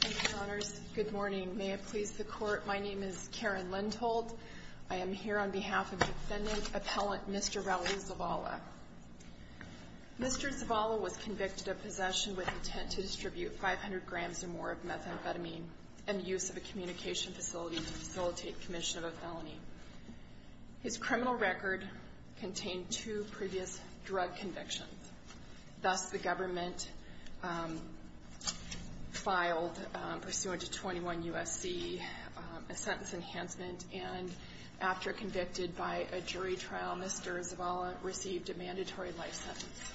Thank you, Your Honors. Good morning. May it please the Court, my name is Karen Lindholt. I am here on behalf of defendant appellant Mr. Raul Zavala. Mr. Zavala was convicted of possession with intent to distribute 500 grams or more of methamphetamine and use of a communication facility to facilitate commission of a felony. His criminal record contained two previous drug convictions. Thus, the government filed pursuant to 21 U.S.C. a sentence enhancement and after convicted by a jury trial, Mr. Zavala received a mandatory life sentence.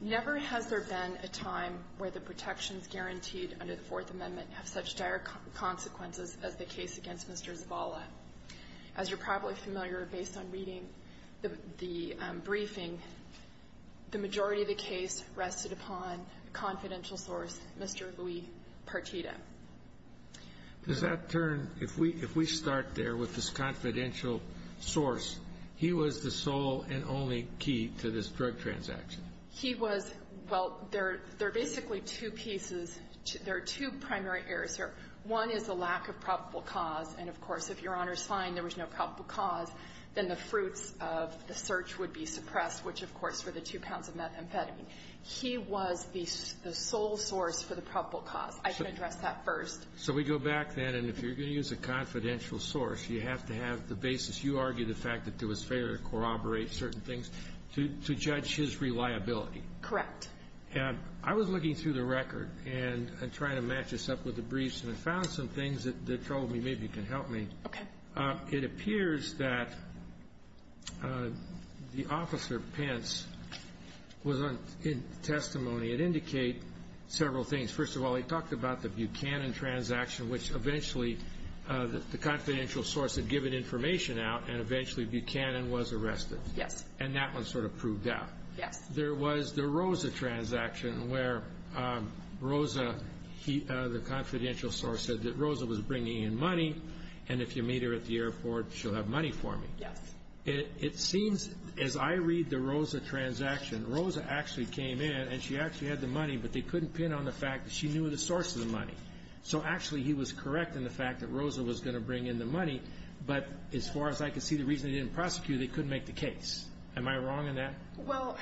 Never has there been a time where the protections guaranteed under the Fourth Amendment have such dire consequences as the case against Mr. Zavala. As you're probably familiar, based on reading the briefing, the majority of the case rested upon a confidential source, Mr. Luis Partita. Does that turn, if we start there with this confidential source, he was the sole and only key to this drug transaction? He was, well, there are basically two pieces, there are two primary errors here. One is the lack of probable cause, and of course, if Your Honor's fine, there was no probable cause, then the fruits of the search would be suppressed, which of course were the two pounds of methamphetamine. He was the sole source for the probable cause. I can address that first. So we go back then, and if you're going to use a confidential source, you have to have the basis. You argue the fact that there was failure to corroborate certain things to judge his reliability. Correct. And I was looking through the record and trying to match this up with the briefs, and I found some things that told me maybe you can help me. Okay. It appears that the officer, Pence, was in testimony. It indicated several things. First of all, he talked about the Buchanan transaction, which eventually the confidential source had given information out, and eventually Buchanan was arrested. Yes. And that one sort of proved out. Yes. There was the Rosa transaction, where Rosa, the confidential source said that Rosa was bringing in money, and if you meet her at the airport, she'll have money for me. Yes. It seems, as I read the Rosa transaction, Rosa actually came in, and she actually had the money, but they couldn't pin on the fact that she knew the source of the money. So actually, he was correct in the fact that Rosa was going to bring in the money, but as far as I could see, the reason they didn't prosecute, they couldn't make the case. Am I wrong in that? Well,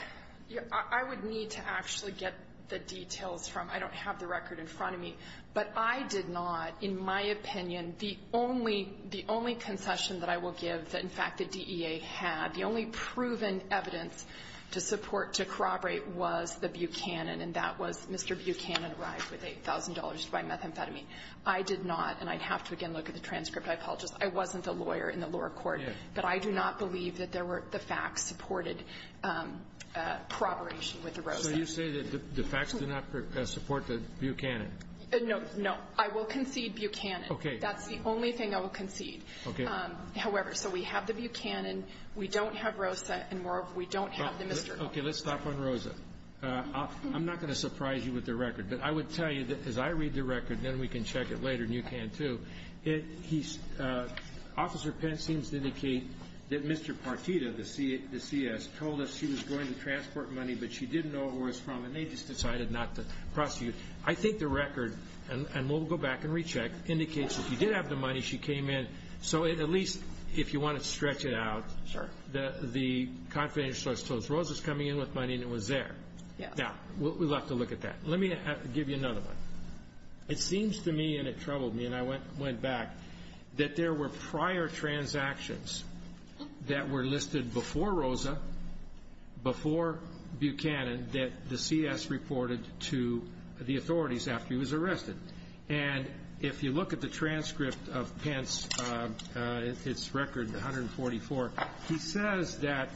I would need to actually get the details from – I don't have the record in front of me. But I did not, in my opinion, the only concession that I will give that, in fact, the DEA had, the only proven evidence to support, to corroborate, was the Buchanan, and that was Mr. Buchanan arrived with $8,000 to buy methamphetamine. I did not, and I'd have to again look at the transcript. I apologize. I wasn't the lawyer in the lower court. Yes. But I do not believe that there were – the facts supported corroboration with the Rosa. So you say that the facts do not support the Buchanan? No. No. I will concede Buchanan. Okay. That's the only thing I will concede. Okay. However, so we have the Buchanan. We don't have Rosa, and moreover, we don't have the Mr. – Okay. Let's stop on Rosa. I'm not going to surprise you with the record, but I would tell you that as I read the record, then we can check it later, and you can, too. Officer Pence seems to indicate that Mr. Partita, the C.S., told us she was going to transport money, but she didn't know where it was from, and they just decided not to prosecute. I think the record, and we'll go back and recheck, indicates that she did have the money. She came in. So at least if you want to stretch it out, the confidential source told us Rosa's coming in with money, and it was there. Yes. Now, we'll have to look at that. Let me give you another one. It seems to me, and it troubled me, and I went back, that there were prior transactions that were listed before Rosa, before Buchanan, that the C.S. reported to the authorities after he was arrested. And if you look at the transcript of Pence, it's record 144, he says that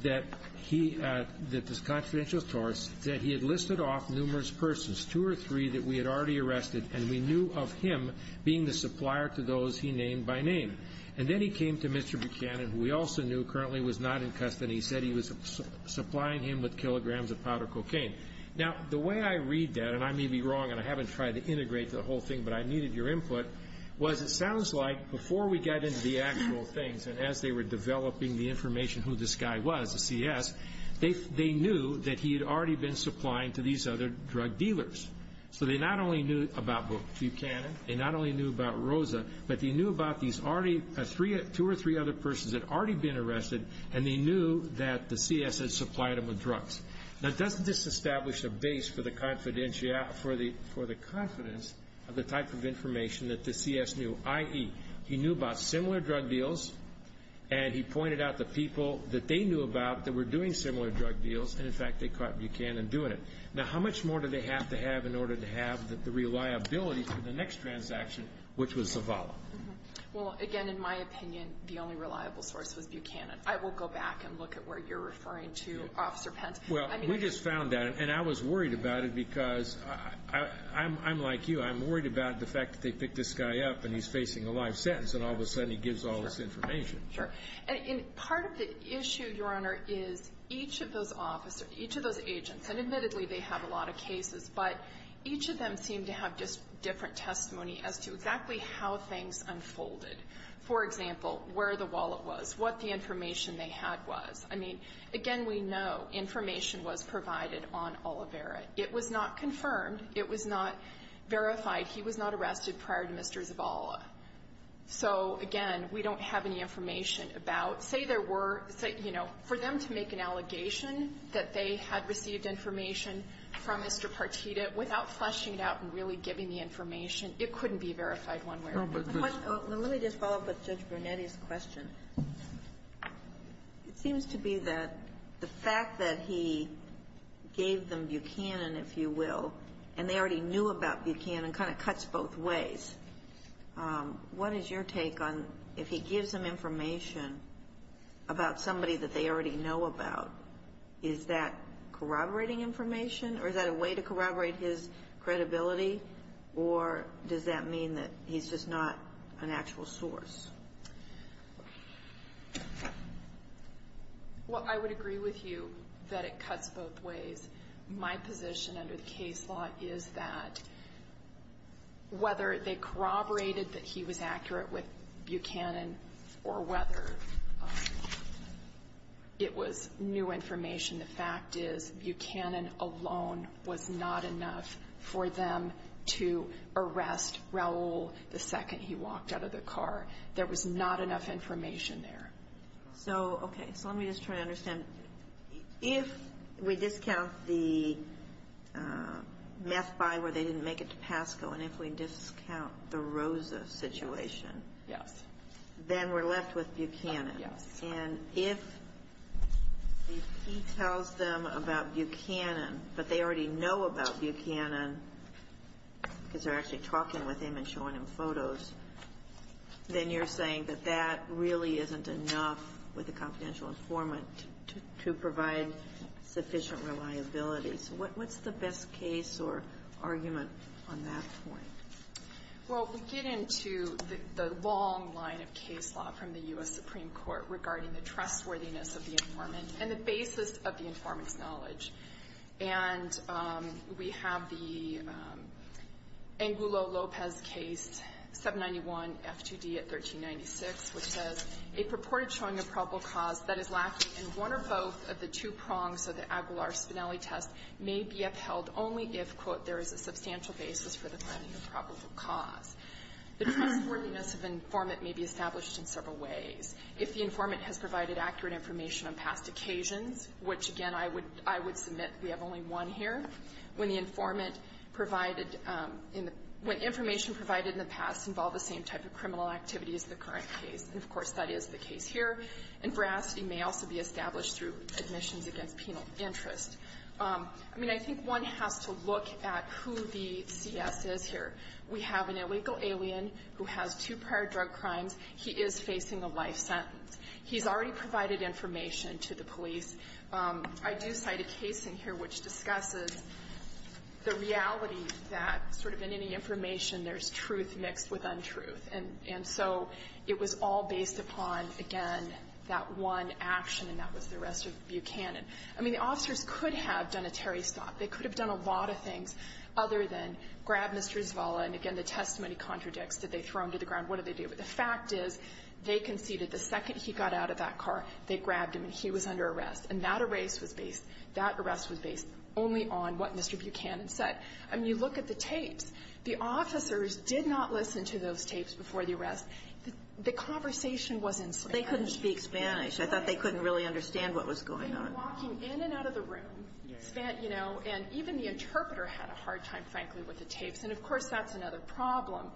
this confidential source said he had listed off numerous persons, two or three that we had already arrested, and we knew of him being the supplier to those he named by name. And then he came to Mr. Buchanan, who we also knew currently was not in custody. He said he was supplying him with kilograms of powder cocaine. Now, the way I read that, and I may be wrong, and I haven't tried to integrate the whole thing, but I needed your input, was it sounds like before we got into the actual things, and as they were developing the information who this guy was, the C.S., they knew that he had already been supplying to these other drug dealers. So they not only knew about Buchanan, they not only knew about Rosa, but they knew about these two or three other persons that had already been arrested, and they knew that the C.S. had supplied them with drugs. Now, doesn't this establish a base for the confidence of the type of information that the C.S. knew, i.e., he knew about similar drug deals, and he pointed out the people that they knew about that were doing similar drug deals, and in fact they caught Buchanan doing it. Now, how much more do they have to have in order to have the reliability for the next transaction, which was Zavala? Well, again, in my opinion, the only reliable source was Buchanan. I will go back and look at where you're referring to, Officer Pence. Well, we just found that, and I was worried about it because I'm like you. I'm worried about the fact that they picked this guy up, and he's facing a live sentence, and all of a sudden he gives all this information. Sure. And part of the issue, Your Honor, is each of those officers, each of those agents, and admittedly they have a lot of cases, but each of them seem to have just different testimony as to exactly how things unfolded. For example, where the wallet was, what the information they had was. I mean, again, we know information was provided on Olivera. It was not confirmed. It was not verified. He was not arrested prior to Mr. Zavala. So, again, we don't have any information about, say there were, say, you know, for them to make an allegation that they had received information from Mr. Partita without fleshing it out and really giving the information, it couldn't be verified one way or another. Let me just follow up with Judge Brunetti's question. It seems to be that the fact that he gave them Buchanan, if you will, and they already knew about Buchanan, kind of cuts both ways. What is your take on if he gives them information about somebody that they already know about, is that corroborating information, or is that a way to corroborate his credibility, or does that mean that he's just not an actual source? Well, I would agree with you that it cuts both ways. My position under the case law is that whether they corroborated that he was accurate with Buchanan or whether it was new information, the fact is Buchanan alone was not enough for them to arrest Raul the second he walked out of the car. There was not enough information there. So, okay. So let me just try to understand. If we discount the meth buy where they didn't make it to Pasco, and if we discount the Rosa situation. Yes. Then we're left with Buchanan. Yes. And if he tells them about Buchanan, but they already know about Buchanan because they're actually talking with him and showing him photos, then you're saying that that really isn't enough with a confidential informant to provide sufficient reliability. So what's the best case or argument on that point? Well, we get into the long line of case law from the U.S. Supreme Court regarding the trustworthiness of the informant and the basis of the informant's knowledge. And we have the Angulo-Lopez case, 791 F2D at 1396, which says, A purported showing of probable cause that is lacking in one or both of the two prongs of the Aguilar-Spinelli test may be upheld only if, quote, there is a substantial basis for the finding of probable cause. The trustworthiness of the informant may be established in several ways. If the informant has provided accurate information on past occasions, which, again, I would submit we have only one here. When the informant provided in the – when information provided in the past involved the same type of criminal activity as the current case, and, of course, that is the case here. And veracity may also be established through admissions against penal interest. I mean, I think one has to look at who the CS is here. We have an illegal alien who has two prior drug crimes. He is facing a life sentence. He's already provided information to the police. I do cite a case in here which discusses the reality that sort of in any information there's truth mixed with untruth. And so it was all based upon, again, that one action, and that was the arrest of Buchanan. I mean, the officers could have done a Terry stop. They could have done a lot of things other than grab Mr. Izvala. And, again, the testimony contradicts. Did they throw him to the ground? What did they do? But the fact is they conceded the second he got out of that car, they grabbed him, and he was under arrest. And that arrest was based only on what Mr. Buchanan said. I mean, you look at the tapes. The officers did not listen to those tapes before the arrest. The conversation was in Spanish. Kagan. They couldn't speak Spanish. I thought they couldn't really understand what was going on. They were walking in and out of the room, you know, and even the interpreter had a hard time, frankly, with the tapes. And, of course, that's another problem,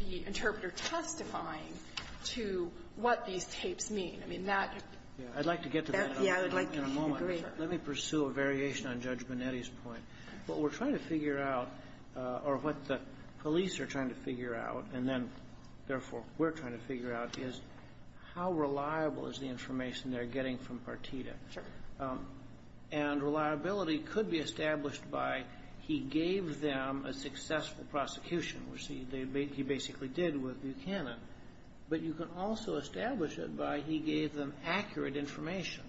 the interpreter testifying to what these tapes mean. I mean, that — I'd like to get to that in a moment. Let me pursue a variation on Judge Bonetti's point. What we're trying to figure out, or what the police are trying to figure out, and then, therefore, we're trying to figure out, is how reliable is the information they're getting from Partita. And reliability could be established by he gave them a successful prosecution, which he basically did with Buchanan. But you can also establish it by he gave them accurate information.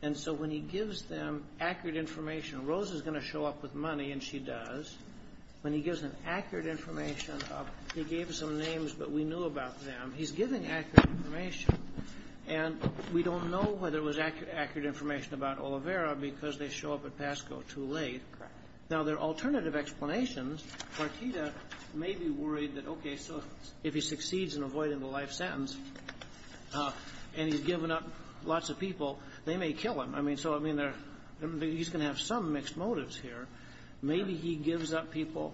And so when he gives them accurate information, Rose is going to show up with money, and she does. When he gives them accurate information, he gave some names, but we knew about them. He's giving accurate information. And we don't know whether it was accurate information about Olivera because they show up at PASCO too late. Correct. Now, there are alternative explanations. Partita may be worried that, okay, so if he succeeds in avoiding the life sentence and he's given up lots of people, they may kill him. I mean, so, I mean, he's going to have some mixed motives here. Maybe he gives up people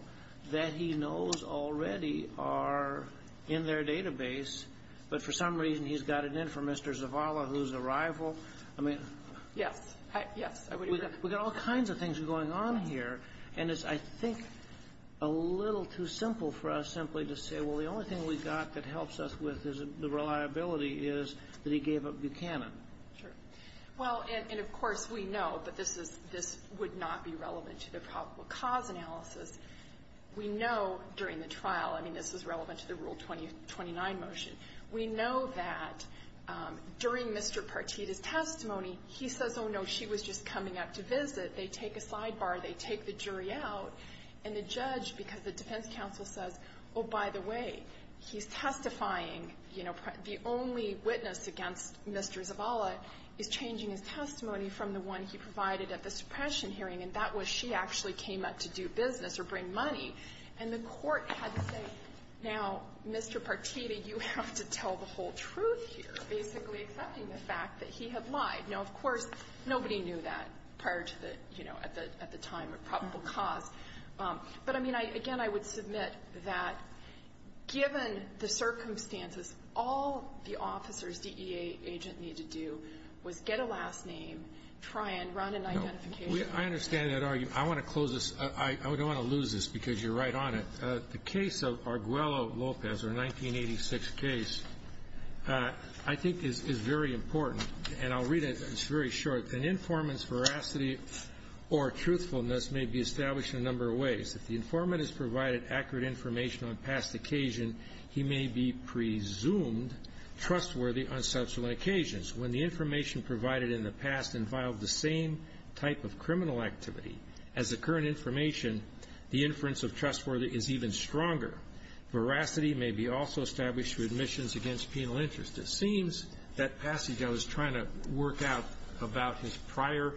that he knows already are in their database, but for some reason he's got it in for Mr. Zavala, who's a rival. I mean. Yes. Yes, I would agree. We've got all kinds of things going on here, and it's, I think, a little too simple for us simply to say, well, the only thing we've got that helps us with is the reliability is that he gave up Buchanan. Sure. Well, and, of course, we know that this is, this would not be relevant to the probable cause analysis. We know during the trial, I mean, this is relevant to the Rule 2029 motion. We know that during Mr. Partita's testimony, he says, oh, no, she was just coming up to visit. They take a sidebar. They take the jury out, and the judge, because the defense counsel says, oh, by the way, he's testifying. You know, the only witness against Mr. Zavala is changing his testimony from the one he provided at the suppression hearing, and that was she actually came up to do business or bring money. And the court had to say, now, Mr. Partita, you have to tell the whole truth here, basically accepting the fact that he had lied. Now, of course, nobody knew that prior to the, you know, at the time of probable cause. But, I mean, again, I would submit that given the circumstances, all the officers, the EA agent, needed to do was get a last name, try and run an identification. I understand that argument. I want to close this. I don't want to lose this because you're right on it. The case of Arguello-Lopez, our 1986 case, I think is very important, and I'll read it. It's very short. An informant's veracity or truthfulness may be established in a number of ways. If the informant has provided accurate information on past occasion, he may be presumed trustworthy on subsequent occasions. When the information provided in the past involved the same type of criminal activity as the current information, the inference of trustworthy is even stronger. Veracity may be also established through admissions against penal interest. It seems that passage I was trying to work out about his prior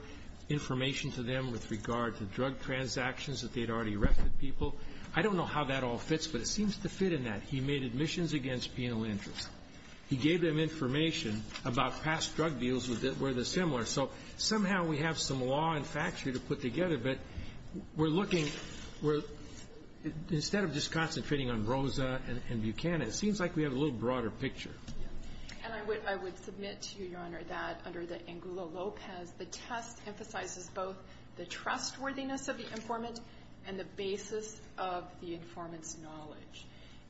information to them with regard to drug transactions that they'd already erected people, I don't know how that all fits, but it seems to fit in that. He made admissions against penal interest. He gave them information about past drug deals where they're similar. So somehow we have some law and factuary to put together, but we're looking where instead of just concentrating on Rosa and Buchanan, it seems like we have a little broader picture. And I would submit to you, Your Honor, that under the Angulo Lopez, the test emphasizes both the trustworthiness of the informant and the basis of the informant's knowledge.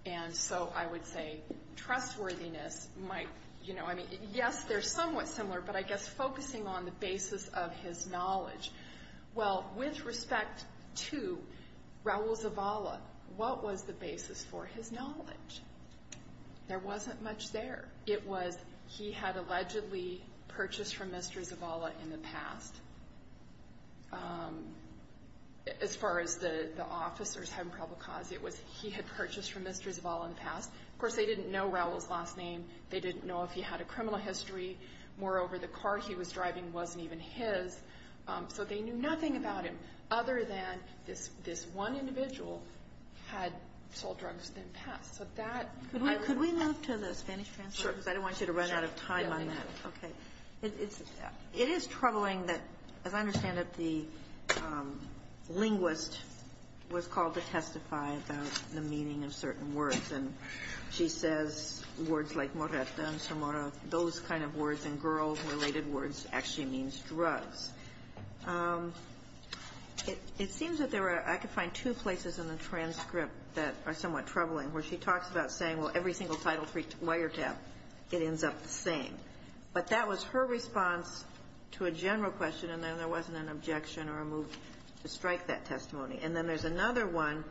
And so I would say trustworthiness might, you know, I mean, yes, they're somewhat similar, but I guess focusing on the basis of his knowledge. Well, with respect to Raul Zavala, what was the basis for his knowledge? There wasn't much there. It was he had allegedly purchased from Mr. Zavala in the past. As far as the officers having probable cause, it was he had purchased from Mr. Zavala in the past. Of course, they didn't know Raul's last name. They didn't know if he had a criminal history. Moreover, the car he was driving wasn't even his, so they knew nothing about him other than this one individual had sold drugs in the past. Could we move to the Spanish transcript? Sure. Because I don't want you to run out of time on that. Okay. It is troubling that, as I understand it, the linguist was called to testify about the meaning of certain words. And she says words like morata and somorra, those kind of words, and girl-related words actually means drugs. It seems that there are, I could find two places in the transcript that are somewhat troubling, where she talks about saying, well, every single title three wiretap, it ends up the same. But that was her response to a general question, and then there wasn't an objection or a move to strike that testimony. And then there's another one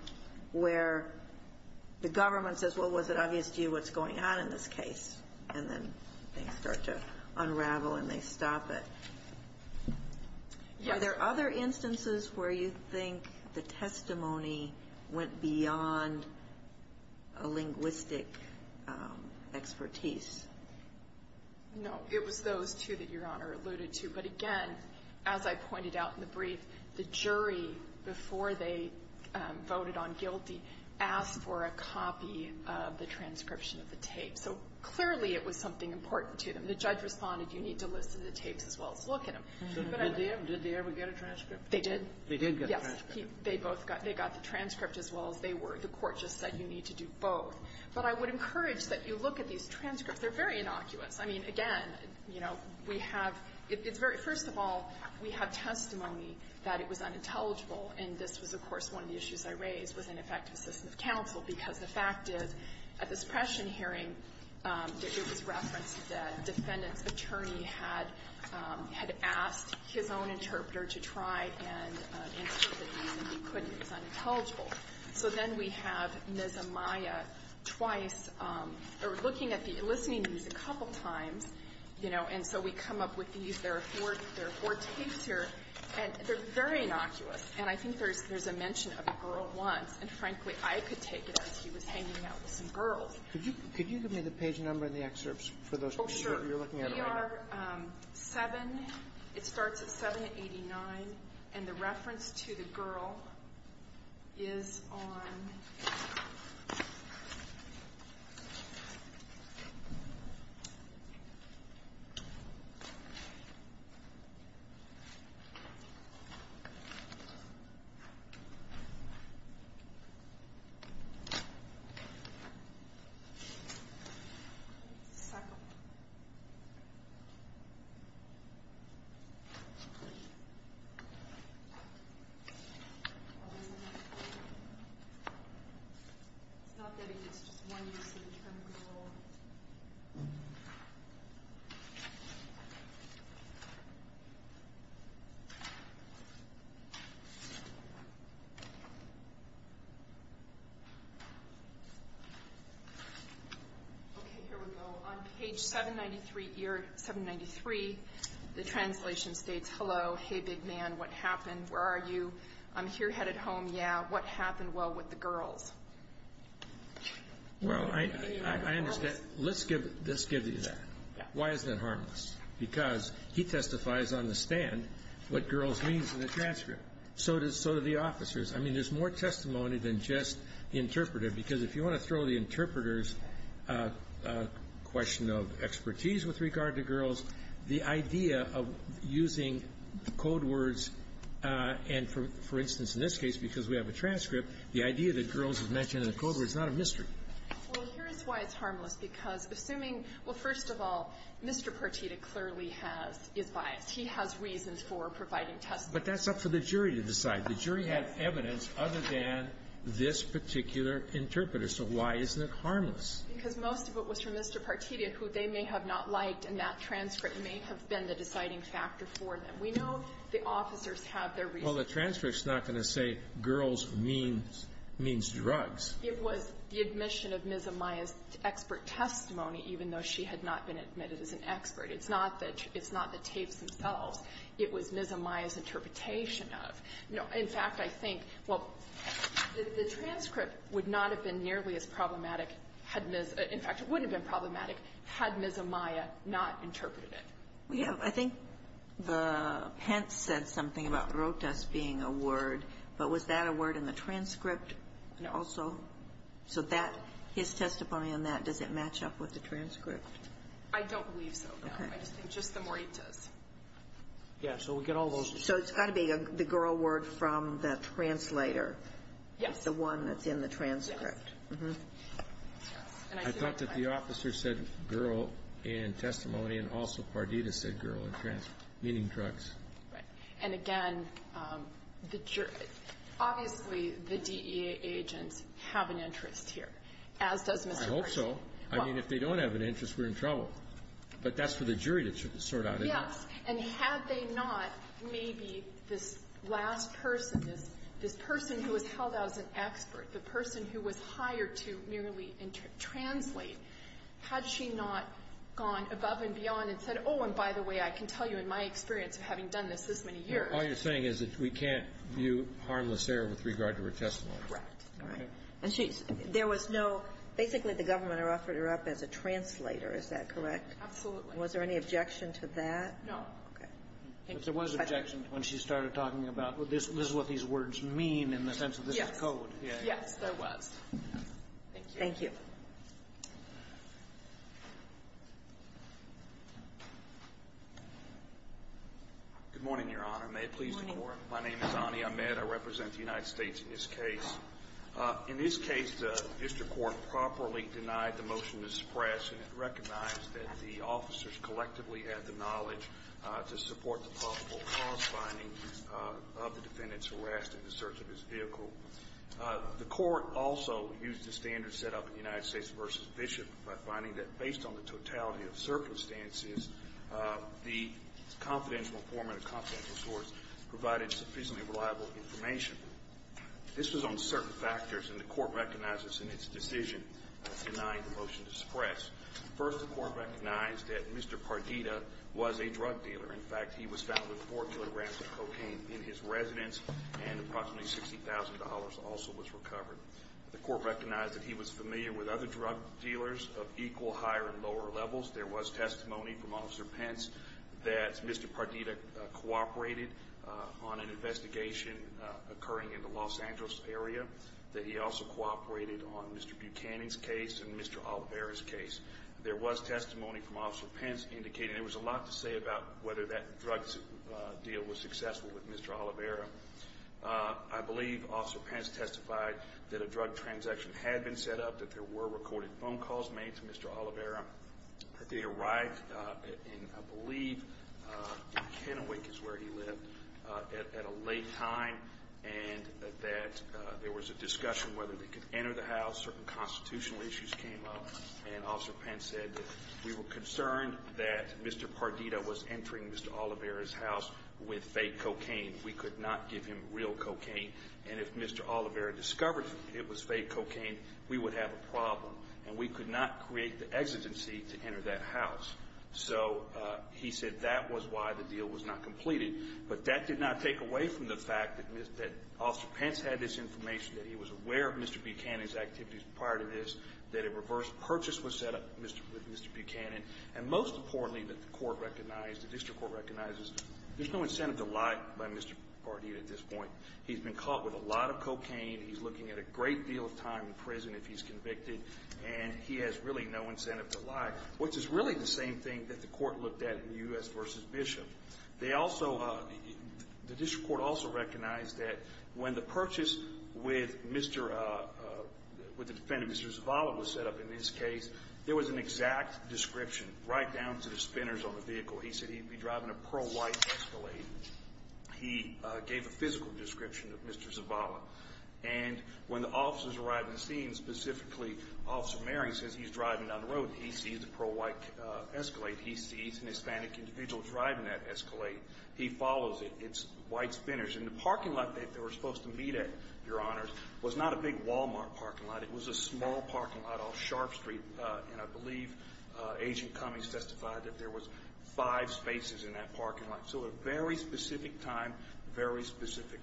where the government says, well, was it obvious to you what's going on in this case? And then things start to unravel and they stop it. Are there other instances where you think the testimony went beyond a linguistic expertise? No. It was those two that Your Honor alluded to. But again, as I pointed out in the brief, the jury, before they voted on guilty, asked for a copy of the transcription of the tape. So clearly it was something important to them. The judge responded, you need to listen to the tapes as well as look at them. Did they ever get a transcript? They did. They did get a transcript. Yes. They both got the transcript as well as they were. The Court just said you need to do both. But I would encourage that you look at these transcripts. They're very innocuous. I mean, again, you know, we have, it's very, first of all, we have testimony that it was unintelligible. And this was, of course, one of the issues I raised was ineffective system of counsel, because the fact is, at this pressure hearing, it was referenced that a defendant's attorney had asked his own interpreter to try and interpret these, and he couldn't. It was unintelligible. So then we have Ms. Amaya twice, or looking at the, listening to these a couple times, you know, and so we come up with these. There are four tapes here, and they're very innocuous. And I think there's a mention of a girl once. And frankly, I could take it as he was hanging out with some girls. Could you give me the page number and the excerpts for those? Oh, sure. We are 7. It starts at 789. And the reference to the girl is on. It's not that it's just one use of the term girl. Okay, here we go. On page 793, year 793, the translation states, hello, hey, big man, what happened, where are you, I'm here headed home, yeah, what happened, well, with the girls? Well, I understand. Let's give you that. Why is that harmless? Because he testifies on the stand what girls means in the transcript. So do the officers. I mean, there's more testimony than just the interpreter, because if you want to interpreters, a question of expertise with regard to girls, the idea of using code words, and for instance, in this case, because we have a transcript, the idea that girls is mentioned in the code word is not a mystery. Well, here's why it's harmless, because assuming, well, first of all, Mr. Partita clearly has, is biased. He has reasons for providing testimony. But that's up for the jury to decide. The jury has evidence other than this particular interpreter. So why isn't it harmless? Because most of it was from Mr. Partita, who they may have not liked, and that transcript may have been the deciding factor for them. We know the officers have their reasons. Well, the transcript's not going to say girls means drugs. It was the admission of Ms. Amaya's expert testimony, even though she had not been admitted as an expert. It's not the tapes themselves. It was Ms. Amaya's interpretation of. In fact, I think, well, the transcript would not have been nearly as problematic had Ms. In fact, it wouldn't have been problematic had Ms. Amaya not interpreted it. We have, I think the pen said something about rotas being a word. But was that a word in the transcript also? No. So that, his testimony on that, does it match up with the transcript? I don't believe so, no. Okay. I just think just the more it does. Yeah. So we get all those. So it's got to be the girl word from the translator. Yes. The one that's in the transcript. Yes. Mm-hmm. I thought that the officer said girl in testimony, and also Pardita said girl in transcript, meaning drugs. Right. And, again, the jury, obviously the DEA agents have an interest here, as does Mr. Pershing. I hope so. I mean, if they don't have an interest, we're in trouble. But that's for the jury to sort out, isn't it? Yes. And had they not, maybe this last person, this person who was held out as an expert, the person who was hired to merely translate, had she not gone above and beyond and said, oh, and by the way, I can tell you in my experience of having done this this many years. All you're saying is that we can't view harmless error with regard to her testimony. Right. All right. And she's – there was no – basically the government offered her up as a translator. Is that correct? Absolutely. Was there any objection to that? No. Okay. But there was objection when she started talking about, well, this is what these words mean in the sense of this is code. Yes. Yes, there was. Thank you. Thank you. Good morning, Your Honor. May it please the Court? Good morning. My name is Ani Ahmed. I represent the United States in this case. In this case, the district court properly denied the motion to suppress, and it recognized that the officers collectively had the knowledge to support the possible cause finding of the defendant's arrest in the search of his vehicle. The court also used the standards set up in the United States v. Bishop by finding that based on the totality of circumstances, the confidential form and the confidential source provided sufficiently reliable information. This was on certain factors, and the court recognizes in its decision denying the motion to suppress. First, the court recognized that Mr. Pardita was a drug dealer. In fact, he was found with four kilograms of cocaine in his residence, and approximately $60,000 also was recovered. The court recognized that he was familiar with other drug dealers of equal, higher, and lower levels. There was testimony from Officer Pence that Mr. Pardita cooperated on an investigation occurring in the Los Angeles area, that he also cooperated on Mr. Buchanan's case and Mr. Oliveira's case. There was testimony from Officer Pence indicating there was a lot to say about whether that drug deal was successful with Mr. Oliveira. I believe Officer Pence testified that a drug transaction had been set up, that there were recorded phone calls made to Mr. Oliveira, that they arrived in, I believe, in Kennewick is where he lived, at a late time, and that there was a discussion whether they could enter the house. Certain constitutional issues came up, and Officer Pence said that we were concerned that Mr. Pardita was entering Mr. Oliveira's house with fake cocaine. We could not give him real cocaine, and if Mr. Oliveira discovered it was fake cocaine, we would have a problem, and we could not create the exigency to enter that house. So he said that was why the deal was not completed. But that did not take away from the fact that Officer Pence had this information, that he was aware of Mr. Buchanan's activities prior to this, that a reverse purchase was set up with Mr. Buchanan, and most importantly, that the court recognized, the district court recognizes there's no incentive to lie by Mr. Pardita at this point. He's been caught with a lot of cocaine. He's looking at a great deal of time in prison if he's convicted, and he has really no incentive to lie, which is really the same thing that the court looked at in U.S. v. Bishop. The district court also recognized that when the purchase with the defendant, Mr. Zavala, was set up in this case, there was an exact description right down to the spinners on the vehicle. He said he'd be driving a pearl white Escalade. He gave a physical description of Mr. Zavala, and when the officers arrived in the scene, specifically Officer Mary, says he's driving down the road, he sees a pearl white Escalade. He sees an Hispanic individual driving that Escalade. He follows it. It's white spinners. And the parking lot that they were supposed to meet at, Your Honors, was not a big Walmart parking lot. It was a small parking lot off Sharp Street, and I believe Agent Cummings testified that there was five spaces in that parking lot. So a very specific time, very specific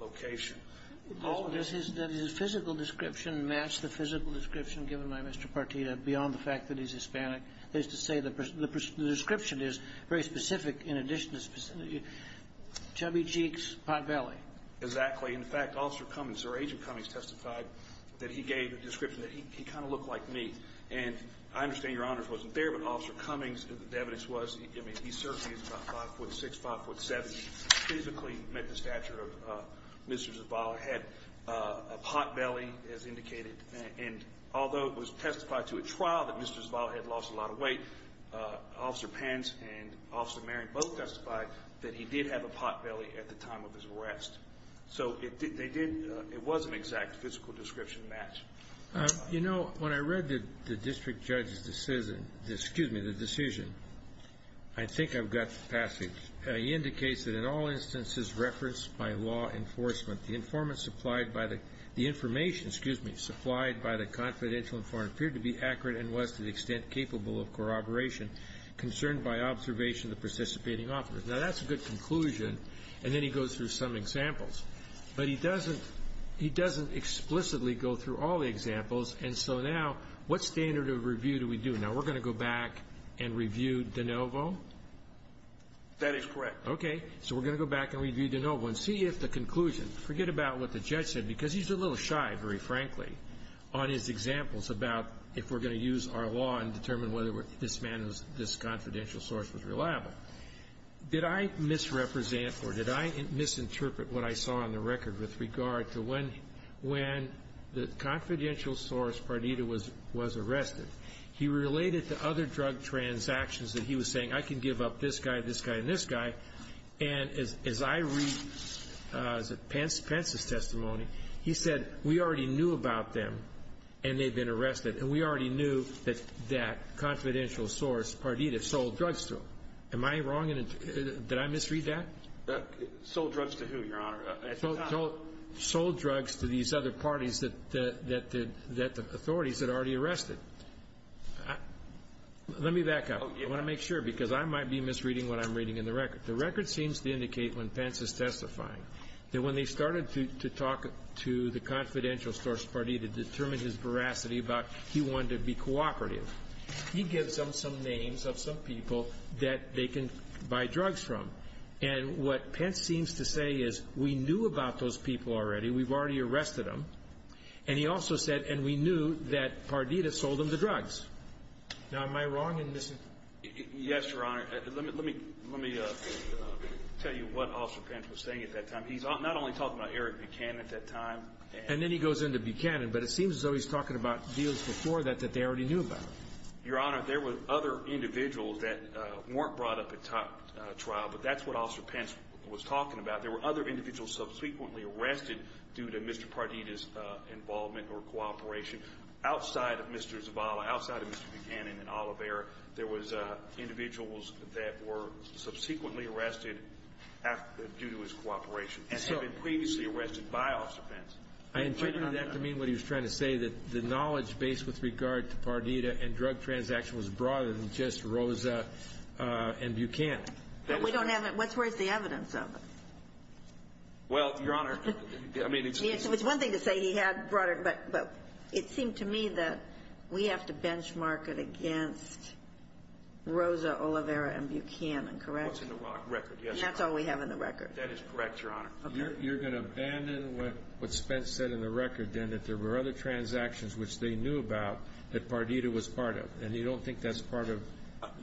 location. All of this is that his physical description matched the physical description given by Mr. Pardita beyond the fact that he's Hispanic. That is to say the description is very specific in addition to specific. Chubby cheeks, pot belly. Exactly. In fact, Officer Cummings or Agent Cummings testified that he gave a description that he kind of looked like me. And I understand Your Honors wasn't there, but Officer Cummings, the evidence was, I mean, he certainly is about 5'6", 5'7", physically met the stature of Mr. Zavala, had a pot belly, as indicated. And although it was testified to at trial that Mr. Zavala had lost a lot of weight, Officer Pence and Officer Marion both testified that he did have a pot belly at the time of his arrest. So they did, it was an exact physical description match. You know, when I read the district judge's decision, excuse me, the decision, I think I've got the passage. He indicates that in all instances referenced by law enforcement, the informant supplied by the information, excuse me, supplied by the confidential informant appeared to be accurate and was to the extent capable of corroboration concerned by observation of the participating officers. Now, that's a good conclusion, and then he goes through some examples. But he doesn't explicitly go through all the examples, and so now what standard of review do we do? Now, we're going to go back and review De Novo? That is correct. Okay. So we're going to go back and review De Novo and see if the conclusion, forget about what the judge said, because he's a little shy, very frankly, on his examples about if we're going to use our law and determine whether this confidential source was reliable. Did I misrepresent or did I misinterpret what I saw on the record with regard to when the confidential source, Pardita, was arrested? He related to other drug transactions that he was saying I can give up this guy, this guy, and this guy. And as I read Pence's testimony, he said we already knew about them and they'd been arrested, and we already knew that that confidential source, Pardita, sold drugs to them. Am I wrong? Did I misread that? Sold drugs to who, Your Honor? Sold drugs to these other parties that the authorities had already arrested. Let me back up. I want to make sure, because I might be misreading what I'm reading in the record. The record seems to indicate when Pence is testifying that when they started to talk to the confidential source, Pardita, to determine his veracity about he wanted to be cooperative, he gives them some names of some people that they can buy drugs from. And what Pence seems to say is we knew about those people already. We've already arrested them. And he also said, and we knew that Pardita sold them the drugs. Now, am I wrong in missing? Yes, Your Honor. Let me tell you what Officer Pence was saying at that time. He's not only talking about Eric Buchanan at that time. And then he goes into Buchanan, but it seems as though he's talking about deals before that that they already knew about. Your Honor, there were other individuals that weren't brought up at trial, but that's what Officer Pence was talking about. There were other individuals subsequently arrested due to Mr. Pardita's involvement or cooperation outside of Mr. Zavala, outside of Mr. Buchanan and Olivera. There was individuals that were subsequently arrested due to his cooperation and had been previously arrested by Officer Pence. I intended that to mean what he was trying to say, that the knowledge base with regard to Pardita and drug transaction was broader than just Rosa and Buchanan. But we don't have it. Where's the evidence of it? Well, Your Honor, I mean, it's one thing to say he had brought up Pardita. But it seemed to me that we have to benchmark it against Rosa, Olivera, and Buchanan. Correct? What's in the record, yes. And that's all we have in the record. That is correct, Your Honor. Okay. You're going to abandon what Spence said in the record, then, that there were other transactions which they knew about that Pardita was part of. And you don't think that's part of the record?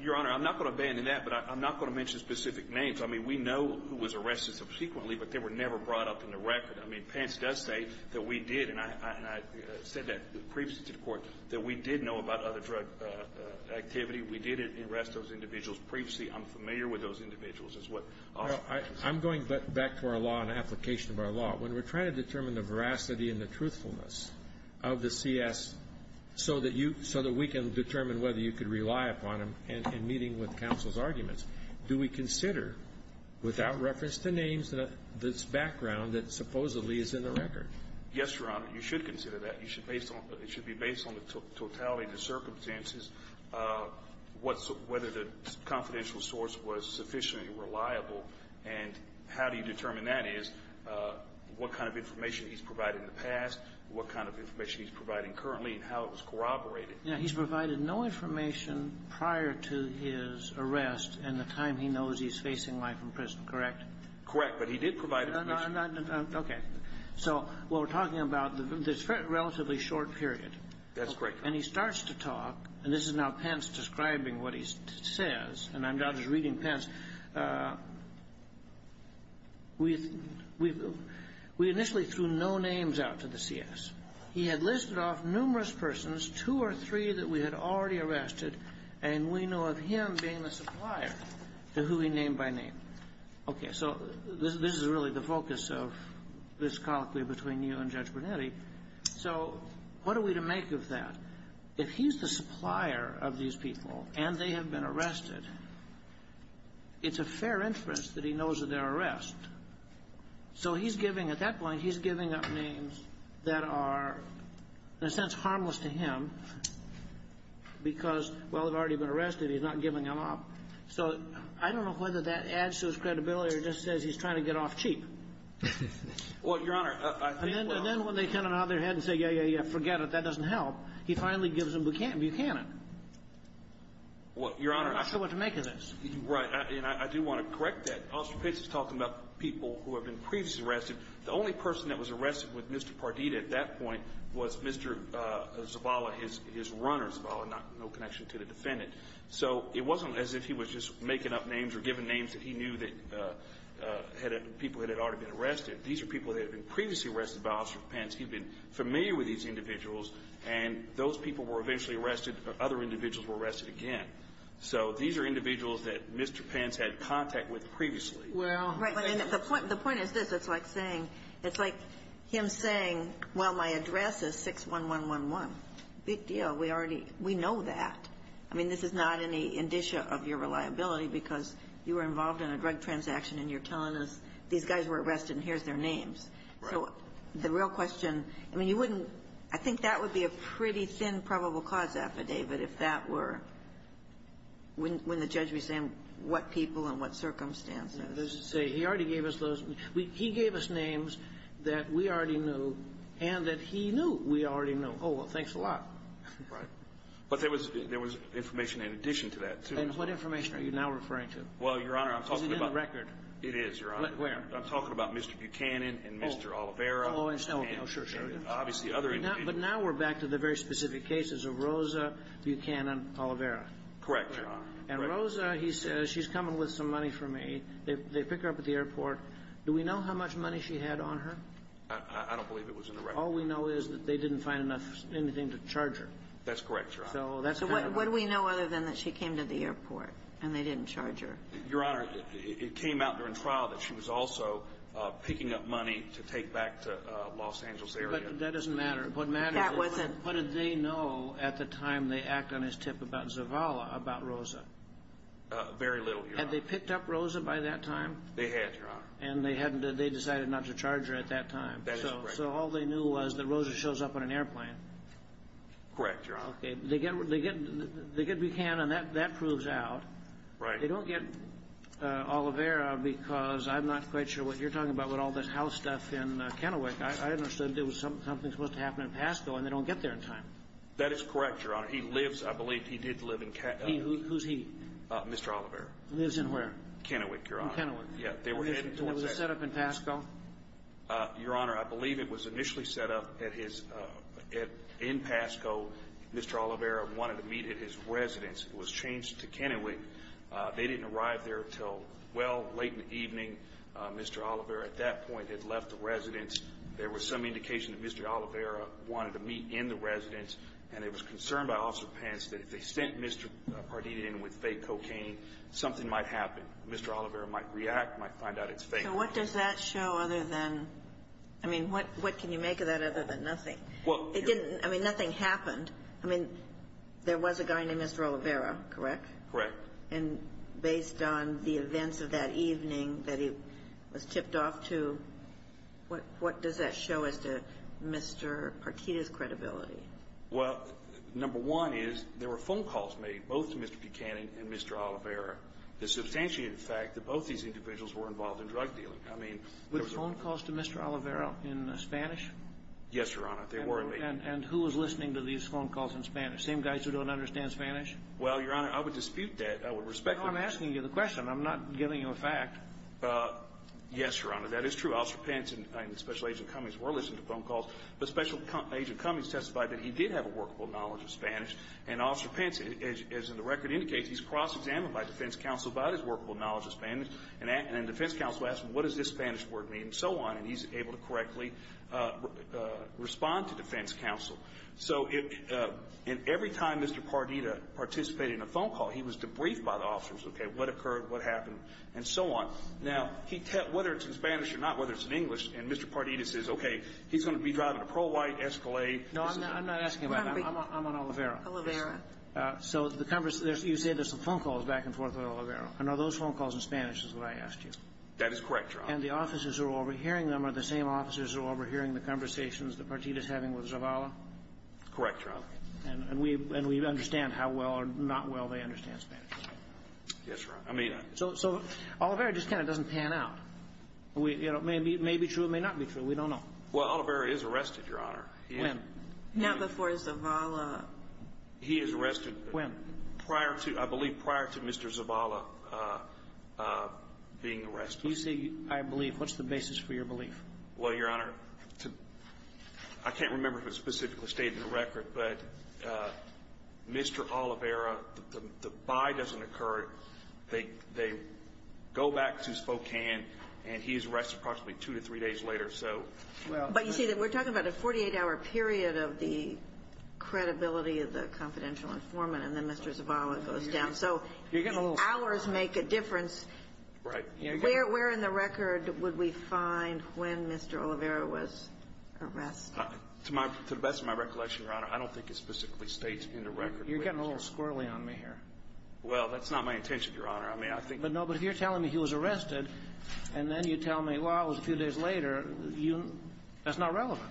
Your Honor, I'm not going to abandon that, but I'm not going to mention specific I mean, we know who was arrested subsequently, but they were never brought up in the record. I mean, Pence does say that we did, and I said that previously to the Court, that we did know about other drug activity. We did arrest those individuals. Previously, I'm familiar with those individuals, is what I'll say. I'm going back to our law and application of our law. When we're trying to determine the veracity and the truthfulness of the CS so that we can determine whether you could rely upon them in meeting with counsel's arguments, do we consider, without reference to names, this background that supposedly is in the record? Yes, Your Honor. You should consider that. It should be based on the totality of the circumstances, whether the confidential source was sufficiently reliable, and how do you determine that is what kind of information he's provided in the past, what kind of information he's providing currently, and how it was corroborated. Yeah. He's provided no information prior to his arrest in the time he knows he's facing life in prison, correct? Correct. But he did provide information. Okay. So what we're talking about, this relatively short period. That's correct. And he starts to talk, and this is now Pence describing what he says, and I'm not just reading Pence. We initially threw no names out to the CS. He had listed off numerous persons, two or three that we had already arrested, and we know of him being a supplier to who he named by name. Okay. So this is really the focus of this colloquy between you and Judge Brunetti. So what are we to make of that? If he's the supplier of these people and they have been arrested, it's a fair interest that he knows of their arrest. So he's giving, at that point, he's giving up names that are, in a sense, harmless to him because, well, they've already been arrested. He's not giving them up. So I don't know whether that adds to his credibility or just says he's trying to get off cheap. Well, Your Honor, I think, well — And then when they kind of nod their head and say, yeah, yeah, yeah, forget it, that doesn't help, he finally gives them Buchanan. Well, Your Honor — I'm not sure what to make of this. Right. And I do want to correct that. Officer Pence is talking about people who have been previously arrested. The only person that was arrested with Mr. Pardita at that point was Mr. Zavala, his runner, Zavala, no connection to the defendant. So it wasn't as if he was just making up names or giving names that he knew that people had already been arrested. These are people that had been previously arrested by Officer Pence. He'd been familiar with these individuals, and those people were eventually arrested, but other individuals were arrested again. So these are individuals that Mr. Pence had contact with previously. Well — Right. But the point is this. It's like saying — it's like him saying, well, my address is 61111. Big deal. We already — we know that. I mean, this is not any indicia of your reliability because you were involved in a drug transaction, and you're telling us these guys were arrested, and here's their names. Right. So the real question — I mean, you wouldn't — I think that would be a pretty thin probable cause affidavit if that were — when the judge was saying what people and what circumstances. He already gave us those — he gave us names that we already knew and that he knew we already knew. Oh, well, thanks a lot. Right. But there was — there was information in addition to that, too. And what information are you now referring to? Well, Your Honor, I'm talking about — Is it in the record? It is, Your Honor. Where? I'm talking about Mr. Buchanan and Mr. Oliveira. Oh, and Snowden. Oh, sure, sure. And obviously other individuals. But now we're back to the very specific cases of Rosa, Buchanan, Oliveira. Correct, Your Honor. And Rosa, he says, she's coming with some money for me. They pick her up at the airport. Do we know how much money she had on her? I don't believe it was in the record. All we know is that they didn't find enough — anything to charge her. That's correct, Your Honor. So what do we know other than that she came to the airport and they didn't charge her? Your Honor, it came out during trial that she was also picking up money to take back to Los Angeles area. But that doesn't matter. That wasn't — What did they know at the time they act on his tip about Zavala about Rosa? Very little, Your Honor. Had they picked up Rosa by that time? They had, Your Honor. And they decided not to charge her at that time. That is correct. So all they knew was that Rosa shows up on an airplane. Correct, Your Honor. Okay. They get Buchanan. That proves out. Right. They don't get Olivera because I'm not quite sure what you're talking about with all this house stuff in Kennewick. I understood there was something supposed to happen in Pasco and they don't get there in time. That is correct, Your Honor. He lives — I believe he did live in — Who's he? Mr. Olivera. Lives in where? Kennewick, Your Honor. In Kennewick. They were headed towards that — Was it set up in Pasco? Your Honor, I believe it was initially set up at his — in Pasco. Mr. Olivera wanted to meet at his residence. It was changed to Kennewick. They didn't arrive there until, well, late in the evening. Mr. Olivera at that point had left the residence. There was some indication that Mr. Olivera wanted to meet in the residence. And there was concern by Officer Pence that if they sent Mr. Pardita in with fake cocaine, something might happen. Mr. Olivera might react, might find out it's fake. So what does that show other than — I mean, what can you make of that other than nothing? It didn't — I mean, nothing happened. I mean, there was a guy named Mr. Olivera, correct? Correct. And based on the events of that evening that he was tipped off to, what does that show as to Mr. Pardita's credibility? Well, number one is there were phone calls made both to Mr. Buchanan and Mr. Olivera that substantiated the fact that both these individuals were involved in drug dealing. I mean, there was a — With phone calls to Mr. Olivera in Spanish? Yes, Your Honor. They were made. And who was listening to these phone calls in Spanish? Same guys who don't understand Spanish? Well, Your Honor, I would dispute that. I would respect the — No, I'm asking you the question. I'm not giving you a fact. Yes, Your Honor. That is true. Officer Pence and Special Agent Cummings were listening to phone calls. But Special Agent Cummings testified that he did have a workable knowledge of Spanish. And Officer Pence, as the record indicates, he's cross-examined by defense counsel about his workable knowledge of Spanish. And then defense counsel asked him, what does this Spanish word mean? And so on. And he's able to correctly respond to defense counsel. So every time Mr. Pardita participated in a phone call, he was debriefed by the officers, okay, what occurred, what happened, and so on. Now, whether it's in Spanish or not, whether it's in English, and Mr. Pardita says, okay, he's going to be driving a pro-white Escalade. No, I'm not asking about that. I'm on Oliveira. Oliveira. So you say there's some phone calls back and forth with Oliveira. And are those phone calls in Spanish is what I asked you? That is correct, Your Honor. And the officers who are overhearing them are the same officers who are overhearing the conversations that Pardita is having with Zavala? Correct, Your Honor. And we understand how well or not well they understand Spanish. Yes, Your Honor. So Oliveira just kind of doesn't pan out. It may be true, it may not be true. We don't know. Well, Oliveira is arrested, Your Honor. When? Not before Zavala. He is arrested. When? Prior to, I believe, prior to Mr. Zavala being arrested. You say, I believe. What's the basis for your belief? Well, Your Honor, I can't remember if it's specifically stated in the record, but Mr. Oliveira, the buy doesn't occur. They go back to Spokane, and he is arrested approximately two to three days later. But you see, we're talking about a 48-hour period of the credibility of the confidential informant, and then Mr. Zavala goes down. So hours make a difference. Right. Where in the record would we find when Mr. Oliveira was arrested? To the best of my recollection, Your Honor, I don't think it specifically states in the record. You're getting a little squirrely on me here. Well, that's not my intention, Your Honor. But no, but if you're telling me he was arrested, and then you tell me, well, it was a few days later, that's not relevant.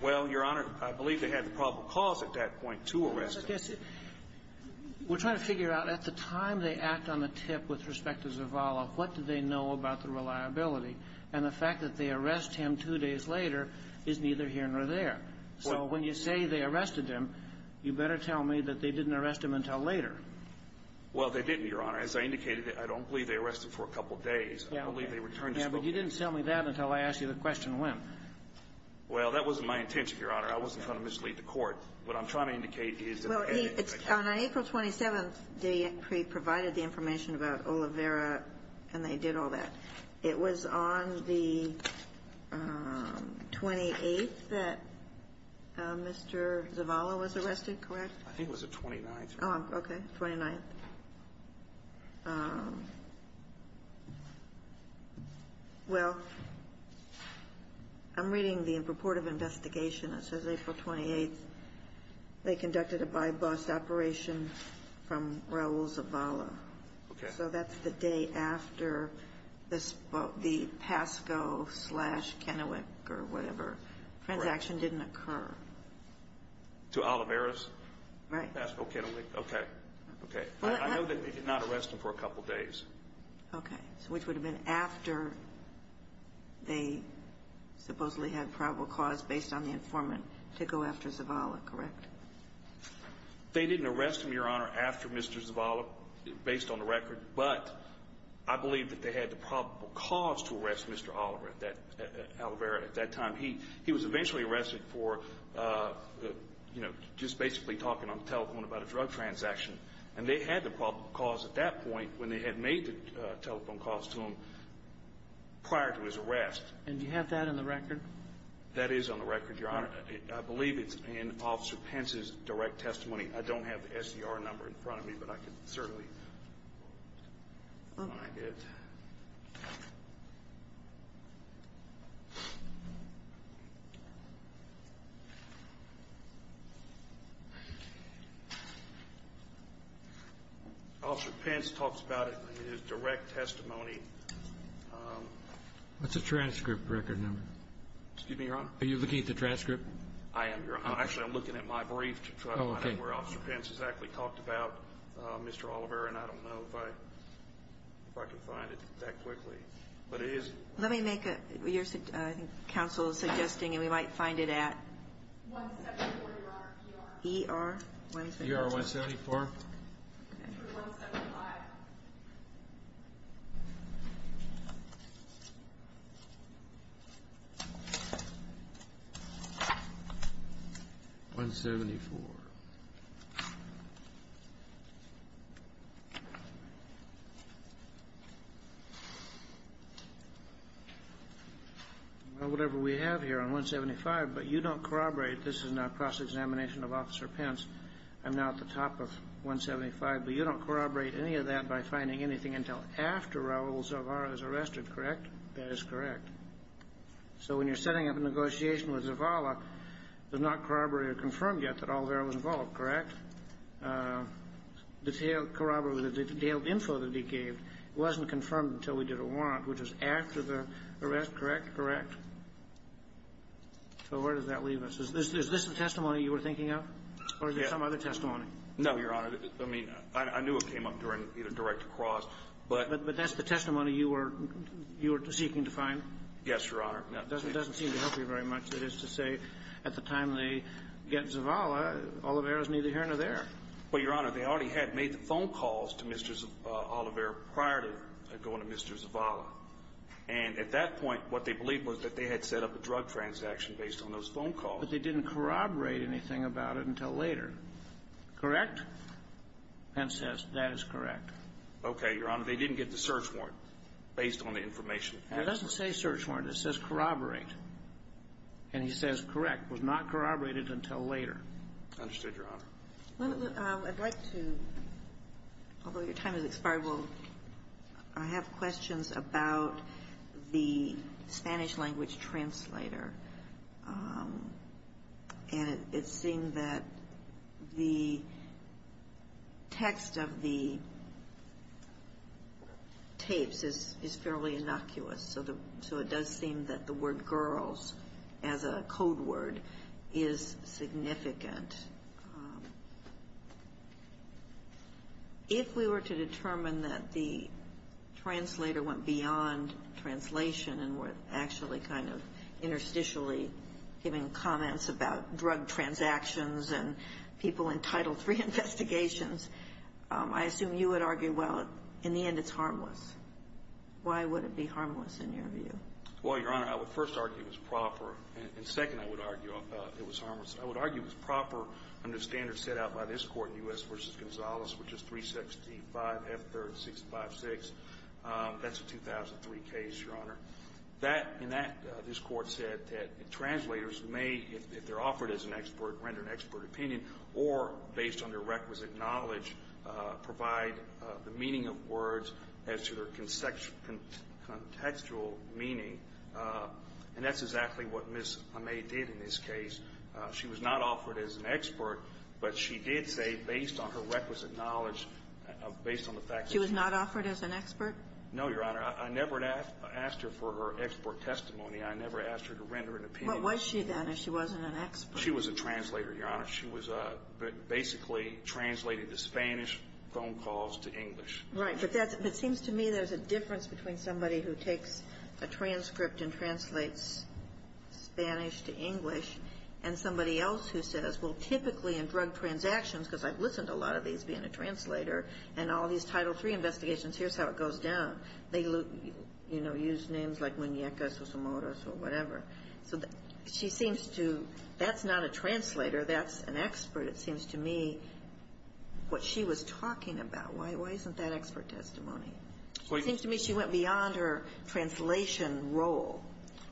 Well, Your Honor, I believe they had the probable cause at that point to arrest him. We're trying to figure out, at the time they act on the tip with respect to Zavala, what did they know about the reliability? And the fact that they arrest him two days later is neither here nor there. So when you say they arrested him, you better tell me that they didn't arrest him until later. Well, they didn't, Your Honor. As I indicated, I don't believe they arrested him for a couple of days. I believe they returned to Spokane. Yeah, but you didn't tell me that until I asked you the question when. Well, that wasn't my intention, Your Honor. I wasn't trying to mislead the Court. What I'm trying to indicate is that I think they did. Well, on April 27th, they provided the information about Oliveira, and they did all that. It was on the 28th that Mr. Zavala was arrested, correct? I think it was the 29th. Oh, okay, the 29th. Well, I'm reading the report of investigation. It says April 28th, they conducted a by-bus operation from Raul Zavala. Okay. So that's the day after the PASCO slash Kennewick or whatever. Correct. Transaction didn't occur. To Oliveira's? Right. PASCO, Kennewick. Okay. Okay. I know that they did not arrest him for a couple of days. Okay. So which would have been after they supposedly had probable cause based on the informant to go after Zavala, correct? They didn't arrest him, Your Honor, after Mr. Zavala, based on the record, but I believe that they had the probable cause to arrest Mr. Oliveira at that time. He was eventually arrested for, you know, just basically talking on the telephone about a drug transaction, and they had the probable cause at that point when they had made the telephone calls to him prior to his arrest. And do you have that in the record? That is on the record, Your Honor. I believe it's in Officer Pence's direct testimony. I don't have the SDR number in front of me, but I can certainly find it. Okay. Officer Pence talks about it in his direct testimony. What's the transcript record number? Excuse me, Your Honor? Are you looking at the transcript? I am, Your Honor. Actually, I'm looking at my brief to try to find out where Officer Pence exactly talked about Mr. Oliveira, and I don't know if I can find it that quickly. But it is – Let me make a – I think counsel is suggesting, and we might find it at – 174, Your Honor. ER-174. ER-174. Okay. 175. 174. Well, whatever we have here on 175, but you don't corroborate – this is in a cross-examination of Officer Pence. I'm now at the top of 175, but you don't corroborate any of that by finding anything until after Raul Zavara is arrested, correct? That is correct. So when you're setting up a negotiation with Zavala, it's not corroborated or confirmed yet that Oliveira was involved, correct? Detailed – corroborated with the detailed info that he gave, it wasn't confirmed until we did a warrant, which is after the arrest, correct? Correct? So where does that leave us? Is this the testimony you were thinking of, or is there some other testimony? No, Your Honor. I mean, I knew it came up during either direct or cross, but – But that's the testimony you were seeking to find? Yes, Your Honor. Now, it doesn't seem to help you very much. That is to say, at the time they get Zavala, Oliveira is neither here nor there. Well, Your Honor, they already had made the phone calls to Mr. Oliveira prior to going to Mr. Zavala. And at that point, what they believed was that they had set up a drug transaction based on those phone calls. But they didn't corroborate anything about it until later, correct? Pence says that is correct. Okay, Your Honor. They didn't get the search warrant based on the information. It doesn't say search warrant. It says corroborate. And he says correct. It was not corroborated until later. Understood, Your Honor. I'd like to, although your time has expired, I have questions about the Spanish language translator. And it seemed that the text of the tapes is fairly innocuous. So it does seem that the word girls as a code word is significant. If we were to determine that the translator went beyond translation and were actually kind of interstitially giving comments about drug transactions and people entitled to reinvestigations, I assume you would argue, well, in the end, it's harmless. Why would it be harmless in your view? Well, Your Honor, I would first argue it was proper. And second, I would argue it was harmless. I would argue it was proper under standards set out by this Court, U.S. v. Gonzales, which is 365F3656. That's a 2003 case, Your Honor. That, in that, this Court said that translators may, if they're offered as an expert, render an expert opinion, or based on their requisite knowledge, provide the meaning of words as to their contextual meaning. And that's exactly what Ms. Amey did in this case. She was not offered as an expert, but she did say based on her requisite knowledge, based on the fact that she was not offered as an expert. No, Your Honor. I never asked her for her expert testimony. I never asked her to render an opinion. What was she, then, if she wasn't an expert? She was a translator, Your Honor. She was basically translating the Spanish phone calls to English. Right. But it seems to me there's a difference between somebody who takes a transcript and translates Spanish to English and somebody else who says, well, typically in drug transactions, because I've listened to a lot of these being a translator and all these Title III investigations, here's how it goes down. They, you know, use names like Muñeca, Sosomoros, or whatever. So she seems to – that's not a translator. That's an expert, it seems to me, what she was talking about. Why isn't that expert testimony? It seems to me she went beyond her translation role.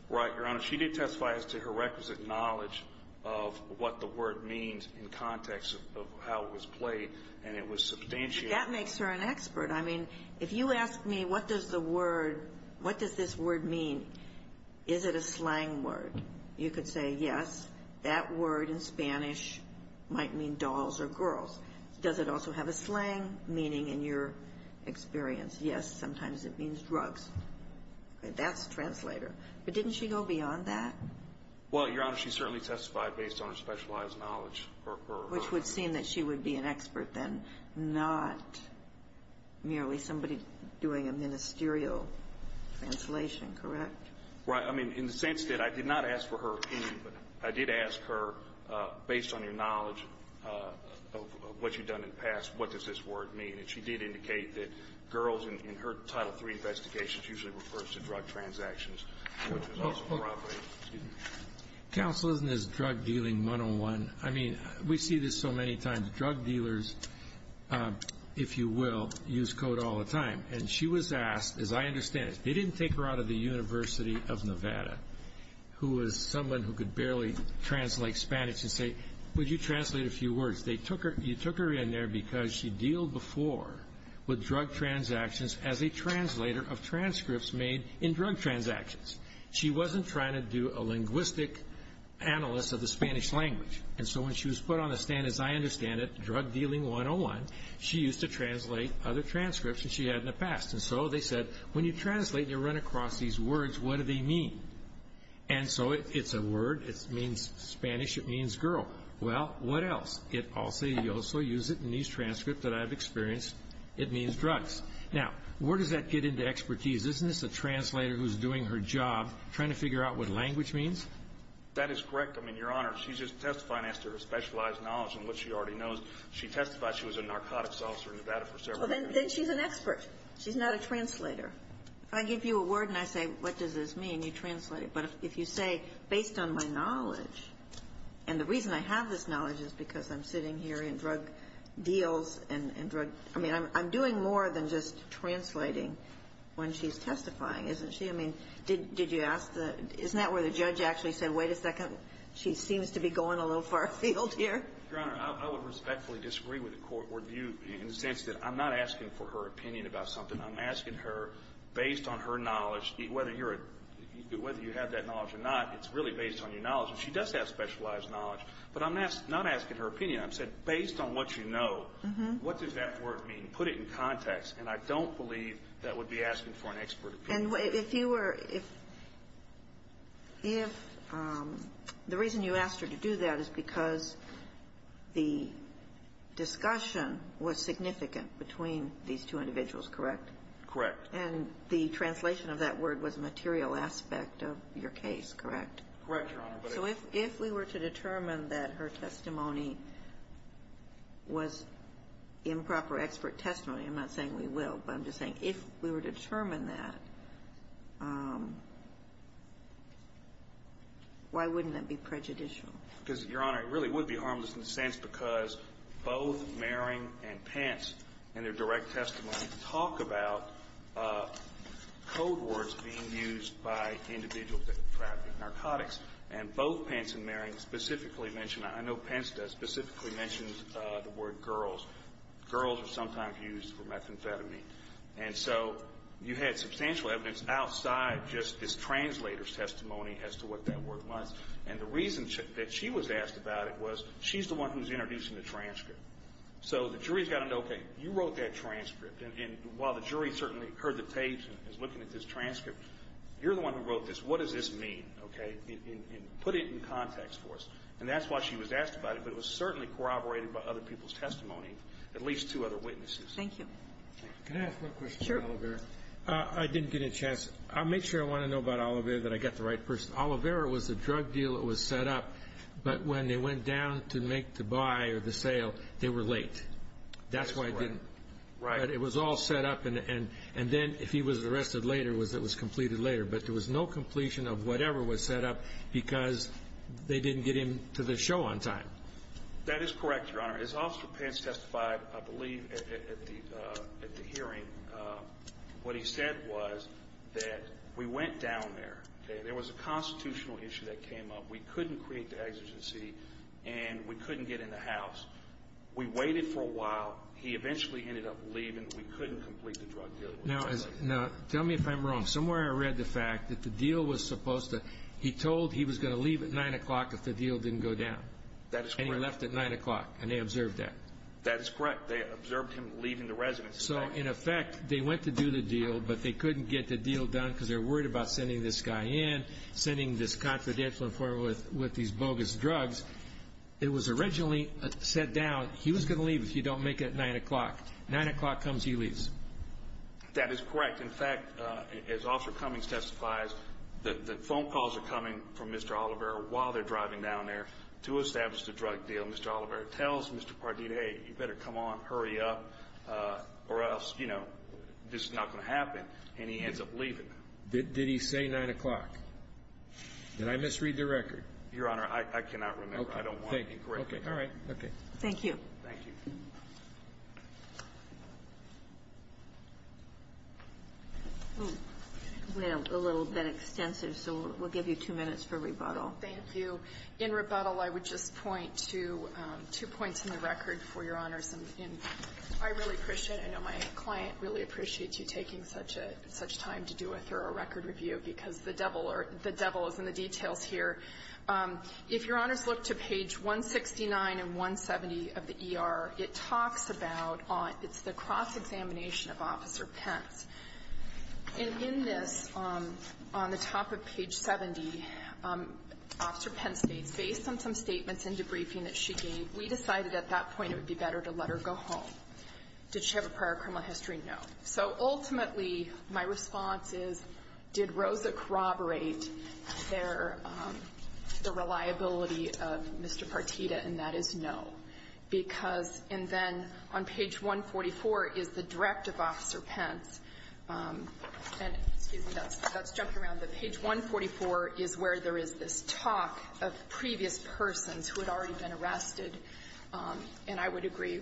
Right, Your Honor. She did testify as to her requisite knowledge of what the word means in context of how it was played and it was substantiated. But that makes her an expert. I mean, if you ask me what does the word – what does this word mean, is it a slang word? You could say, yes, that word in Spanish might mean dolls or girls. Does it also have a slang meaning in your experience? Yes, sometimes it means drugs. That's a translator. But didn't she go beyond that? Well, Your Honor, she certainly testified based on her specialized knowledge. Which would seem that she would be an expert then, not merely somebody doing a ministerial translation, correct? Right. I mean, in the sense that I did not ask for her opinion, but I did ask her based on her knowledge of what she'd done in the past, what does this word mean? And she did indicate that girls in her Title III investigations usually refers to drug transactions. Counsel, isn't this drug dealing 101? I mean, we see this so many times. Drug dealers, if you will, use code all the time. And she was asked, as I understand it, they didn't take her out of the University of Nevada, who was someone who could barely translate Spanish and say, would you translate a few words? You took her in there because she'd deal before with drug transactions as a translator of transcripts made in drug transactions. She wasn't trying to do a linguistic analysis of the Spanish language. And so when she was put on the stand, as I understand it, drug dealing 101, she used to translate other transcripts than she had in the past. And so they said, when you translate and you run across these words, what do they mean? And so it's a word, it means Spanish, it means girl. Well, what else? You also use it in these transcripts that I've experienced. It means drugs. Now, where does that get into expertise? Isn't this a translator who's doing her job trying to figure out what language means? That is correct. I mean, Your Honor, she's just testifying as to her specialized knowledge and what she already knows. She testified she was a narcotics officer in Nevada for several decades. Then she's an expert. She's not a translator. If I give you a word and I say, what does this mean, you translate it. But if you say, based on my knowledge, and the reason I have this knowledge is because I'm sitting here in drug deals and drug – I mean, I'm doing more than just translating when she's testifying, isn't she? I mean, did you ask the – isn't that where the judge actually said, wait a second, she seems to be going a little far afield here? Your Honor, I would respectfully disagree with the court word view in the sense that I'm not asking for her opinion about something. I'm asking her, based on her knowledge, whether you're a – whether you have that knowledge or not, it's really based on your knowledge. And she does have specialized knowledge, but I'm not asking her opinion. I'm saying, based on what you know, what does that word mean? Put it in context. And I don't believe that would be asking for an expert opinion. And if you were – if – if – the reason you asked her to do that is because the discussion was significant between these two individuals, correct? Correct. And the translation of that word was a material aspect of your case, correct? Correct, Your Honor. So if – if we were to determine that her testimony was improper expert testimony – I'm not saying we will, but I'm just saying if we were to determine that, why wouldn't that be prejudicial? Because, Your Honor, it really would be harmless in the sense because both Mehring and Pence in their direct testimony talk about code words being used by individuals that have been trafficked, narcotics. And both Pence and Mehring specifically mention – I know Pence does – specifically mentions the word girls. Girls are sometimes used for methamphetamine. And so you had substantial evidence outside just this translator's testimony as to what that word was. And the reason that she was asked about it was she's the one who's introducing the transcript. So the jury's got to know, okay, you wrote that transcript. And while the jury certainly heard the tapes and is looking at this transcript, you're the one who wrote this. What does this mean? Okay? And put it in context for us. And that's why she was asked about it. But it was certainly corroborated by other people's testimony, at least two other witnesses. Thank you. Can I ask one question on Olivera? Sure. I didn't get a chance. I'll make sure I want to know about Olivera that I got the right person. Olivera was the drug dealer that was set up, but when they went down to make the buy or the sale, they were late. That's why I didn't. Right. It was all set up. And then if he was arrested later, it was completed later. But there was no completion of whatever was set up because they didn't get him to the show on time. That is correct, Your Honor. As Officer Pence testified, I believe, at the hearing, what he said was that we went down there. There was a constitutional issue that came up. We couldn't create the exigency, and we couldn't get in the house. We waited for a while. He eventually ended up leaving. We couldn't complete the drug deal. Now, tell me if I'm wrong. Somewhere I read the fact that the deal was supposed to he told he was going to leave at 9 o'clock if the deal didn't go down. That is correct. And he left at 9 o'clock, and they observed that. That is correct. They observed him leaving the residence. So, in effect, they went to do the deal, but they couldn't get the deal done because they were worried about sending this guy in, sending this confidential informant with these bogus drugs. It was originally set down. He was going to leave if you don't make it at 9 o'clock. 9 o'clock comes, he leaves. That is correct. In fact, as Officer Cummings testifies, the phone calls are coming from Mr. Oliver while they're driving down there to establish the drug deal. Mr. Oliver tells Mr. Pardita, hey, you better come on, hurry up, or else, you know, this is not going to happen. And he ends up leaving. Did he say 9 o'clock? Did I misread the record? Your Honor, I cannot remember. I don't want to be corrected. Okay. All right. Okay. Thank you. Thank you. We have a little bit extensive, so we'll give you two minutes for rebuttal. Thank you. In rebuttal, I would just point to two points in the record for Your Honors. And I really appreciate it. I know my client really appreciates you taking such time to do a thorough record review because the devil is in the details here. If Your Honors look to page 169 and 170 of the ER, it talks about the cross-examination of Officer Pence. And in this, on the top of page 70, Officer Pence states, based on some statements and debriefing that she gave, we decided at that point it would be better to let her go home. Did she have a prior criminal history? No. So ultimately, my response is, did Rosa corroborate the reliability of Mr. Partita? And that is no. Because, and then on page 144 is the direct of Officer Pence. And, excuse me, that's jumping around. But page 144 is where there is this talk of previous persons who had already been arrested. And I would agree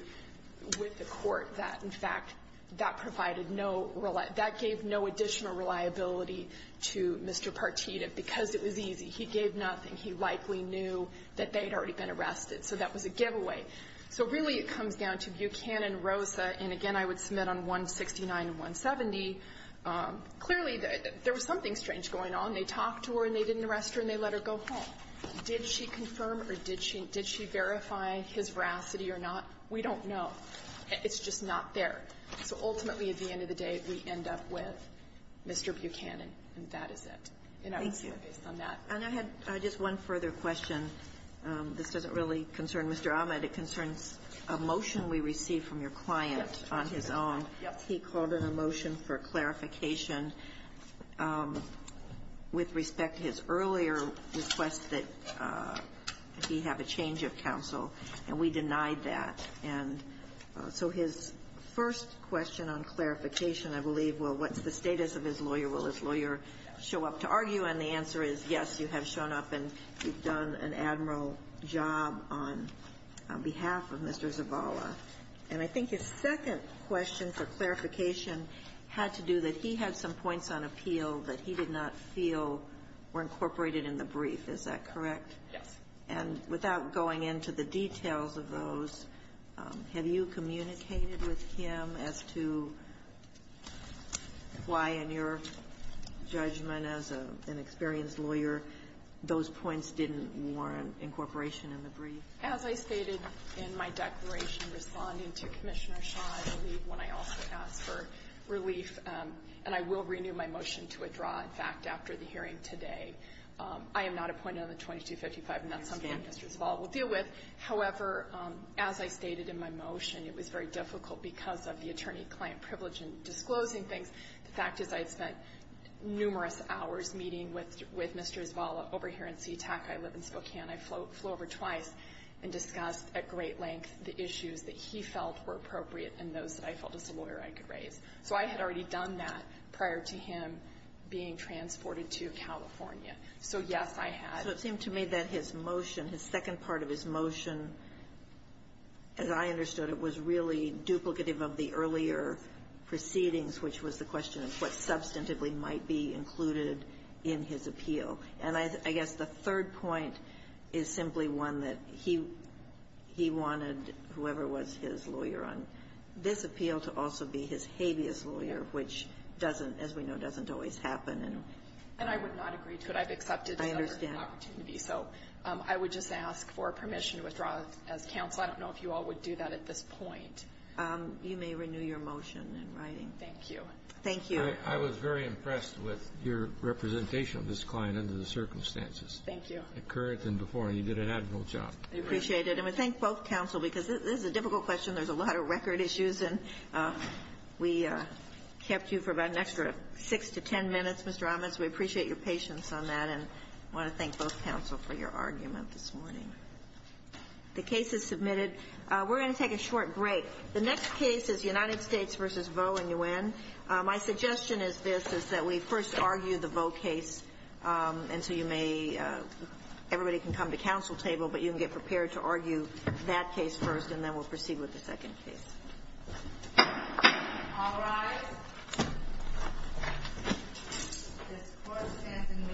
with the Court that, in fact, that provided no, that gave no additional reliability to Mr. Partita because it was easy. He gave nothing. He likely knew that they had already been arrested. So that was a giveaway. So really it comes down to Buchanan, Rosa, and again I would submit on 169 and 170, clearly there was something strange going on. They talked to her and they didn't arrest her and they let her go home. Did she confirm or did she verify his veracity or not? We don't know. It's just not there. So ultimately, at the end of the day, we end up with Mr. Buchanan, and that is it. And I would submit based on that. And I had just one further question. This doesn't really concern Mr. Ahmed. It concerns a motion we received from your client on his own. Yes. He called in a motion for clarification with respect to his earlier request that he have a change of counsel, and we denied that. And so his first question on clarification, I believe, well, what's the status of his lawyer? Will his lawyer show up to argue? And the answer is, yes, you have shown up and you've done an admiral job on behalf of Mr. Zavala. And I think his second question for clarification had to do that he had some points on appeal that he did not feel were incorporated in the brief. Is that correct? Yes. And without going into the details of those, have you communicated with him as to why in your judgment as an experienced lawyer those points didn't warrant incorporation in the brief? As I stated in my declaration responding to Commissioner Shaw, I believe when I also asked for relief, and I will renew my motion to withdraw, in fact, after the hearing today, I am not appointed on the 2255, and that's something that Mr. Zavala will deal with. However, as I stated in my motion, it was very difficult because of the attorney-client privilege in disclosing things. The fact is I had spent numerous hours meeting with Mr. Zavala over here in SeaTac. I live in Spokane. I flew over twice and discussed at great length the issues that he felt were appropriate and those that I felt as a lawyer I could raise. So I had already done that prior to him being transported to California. So, yes, I had. So it seemed to me that his motion, his second part of his motion, as I understood it, was really duplicative of the earlier proceedings, which was the question of what substantively might be included in his appeal. And I guess the third point is simply one that he wanted whoever was his lawyer on this appeal to also be his habeas lawyer, which doesn't, as we know, doesn't always happen. And I would not agree to it. I've accepted the opportunity. I understand. So I would just ask for permission to withdraw as counsel. I don't know if you all would do that at this point. You may renew your motion in writing. Thank you. Thank you. Thank you. I was very impressed with your representation of this client under the circumstances. Thank you. More current than before. And you did an admirable job. I appreciate it. And I thank both counsel, because this is a difficult question. There's a lot of record issues. And we kept you for about an extra 6 to 10 minutes, Mr. Amas. We appreciate your patience on that. And I want to thank both counsel for your argument this morning. The case is submitted. We're going to take a short break. The next case is United States v. Vaux and U.N. My suggestion is this, is that we first argue the Vaux case until you may ‑‑ everybody can come to counsel table, but you can get prepared to argue that case first, and then we'll proceed with the second case. All rise. This court stands in mayhem.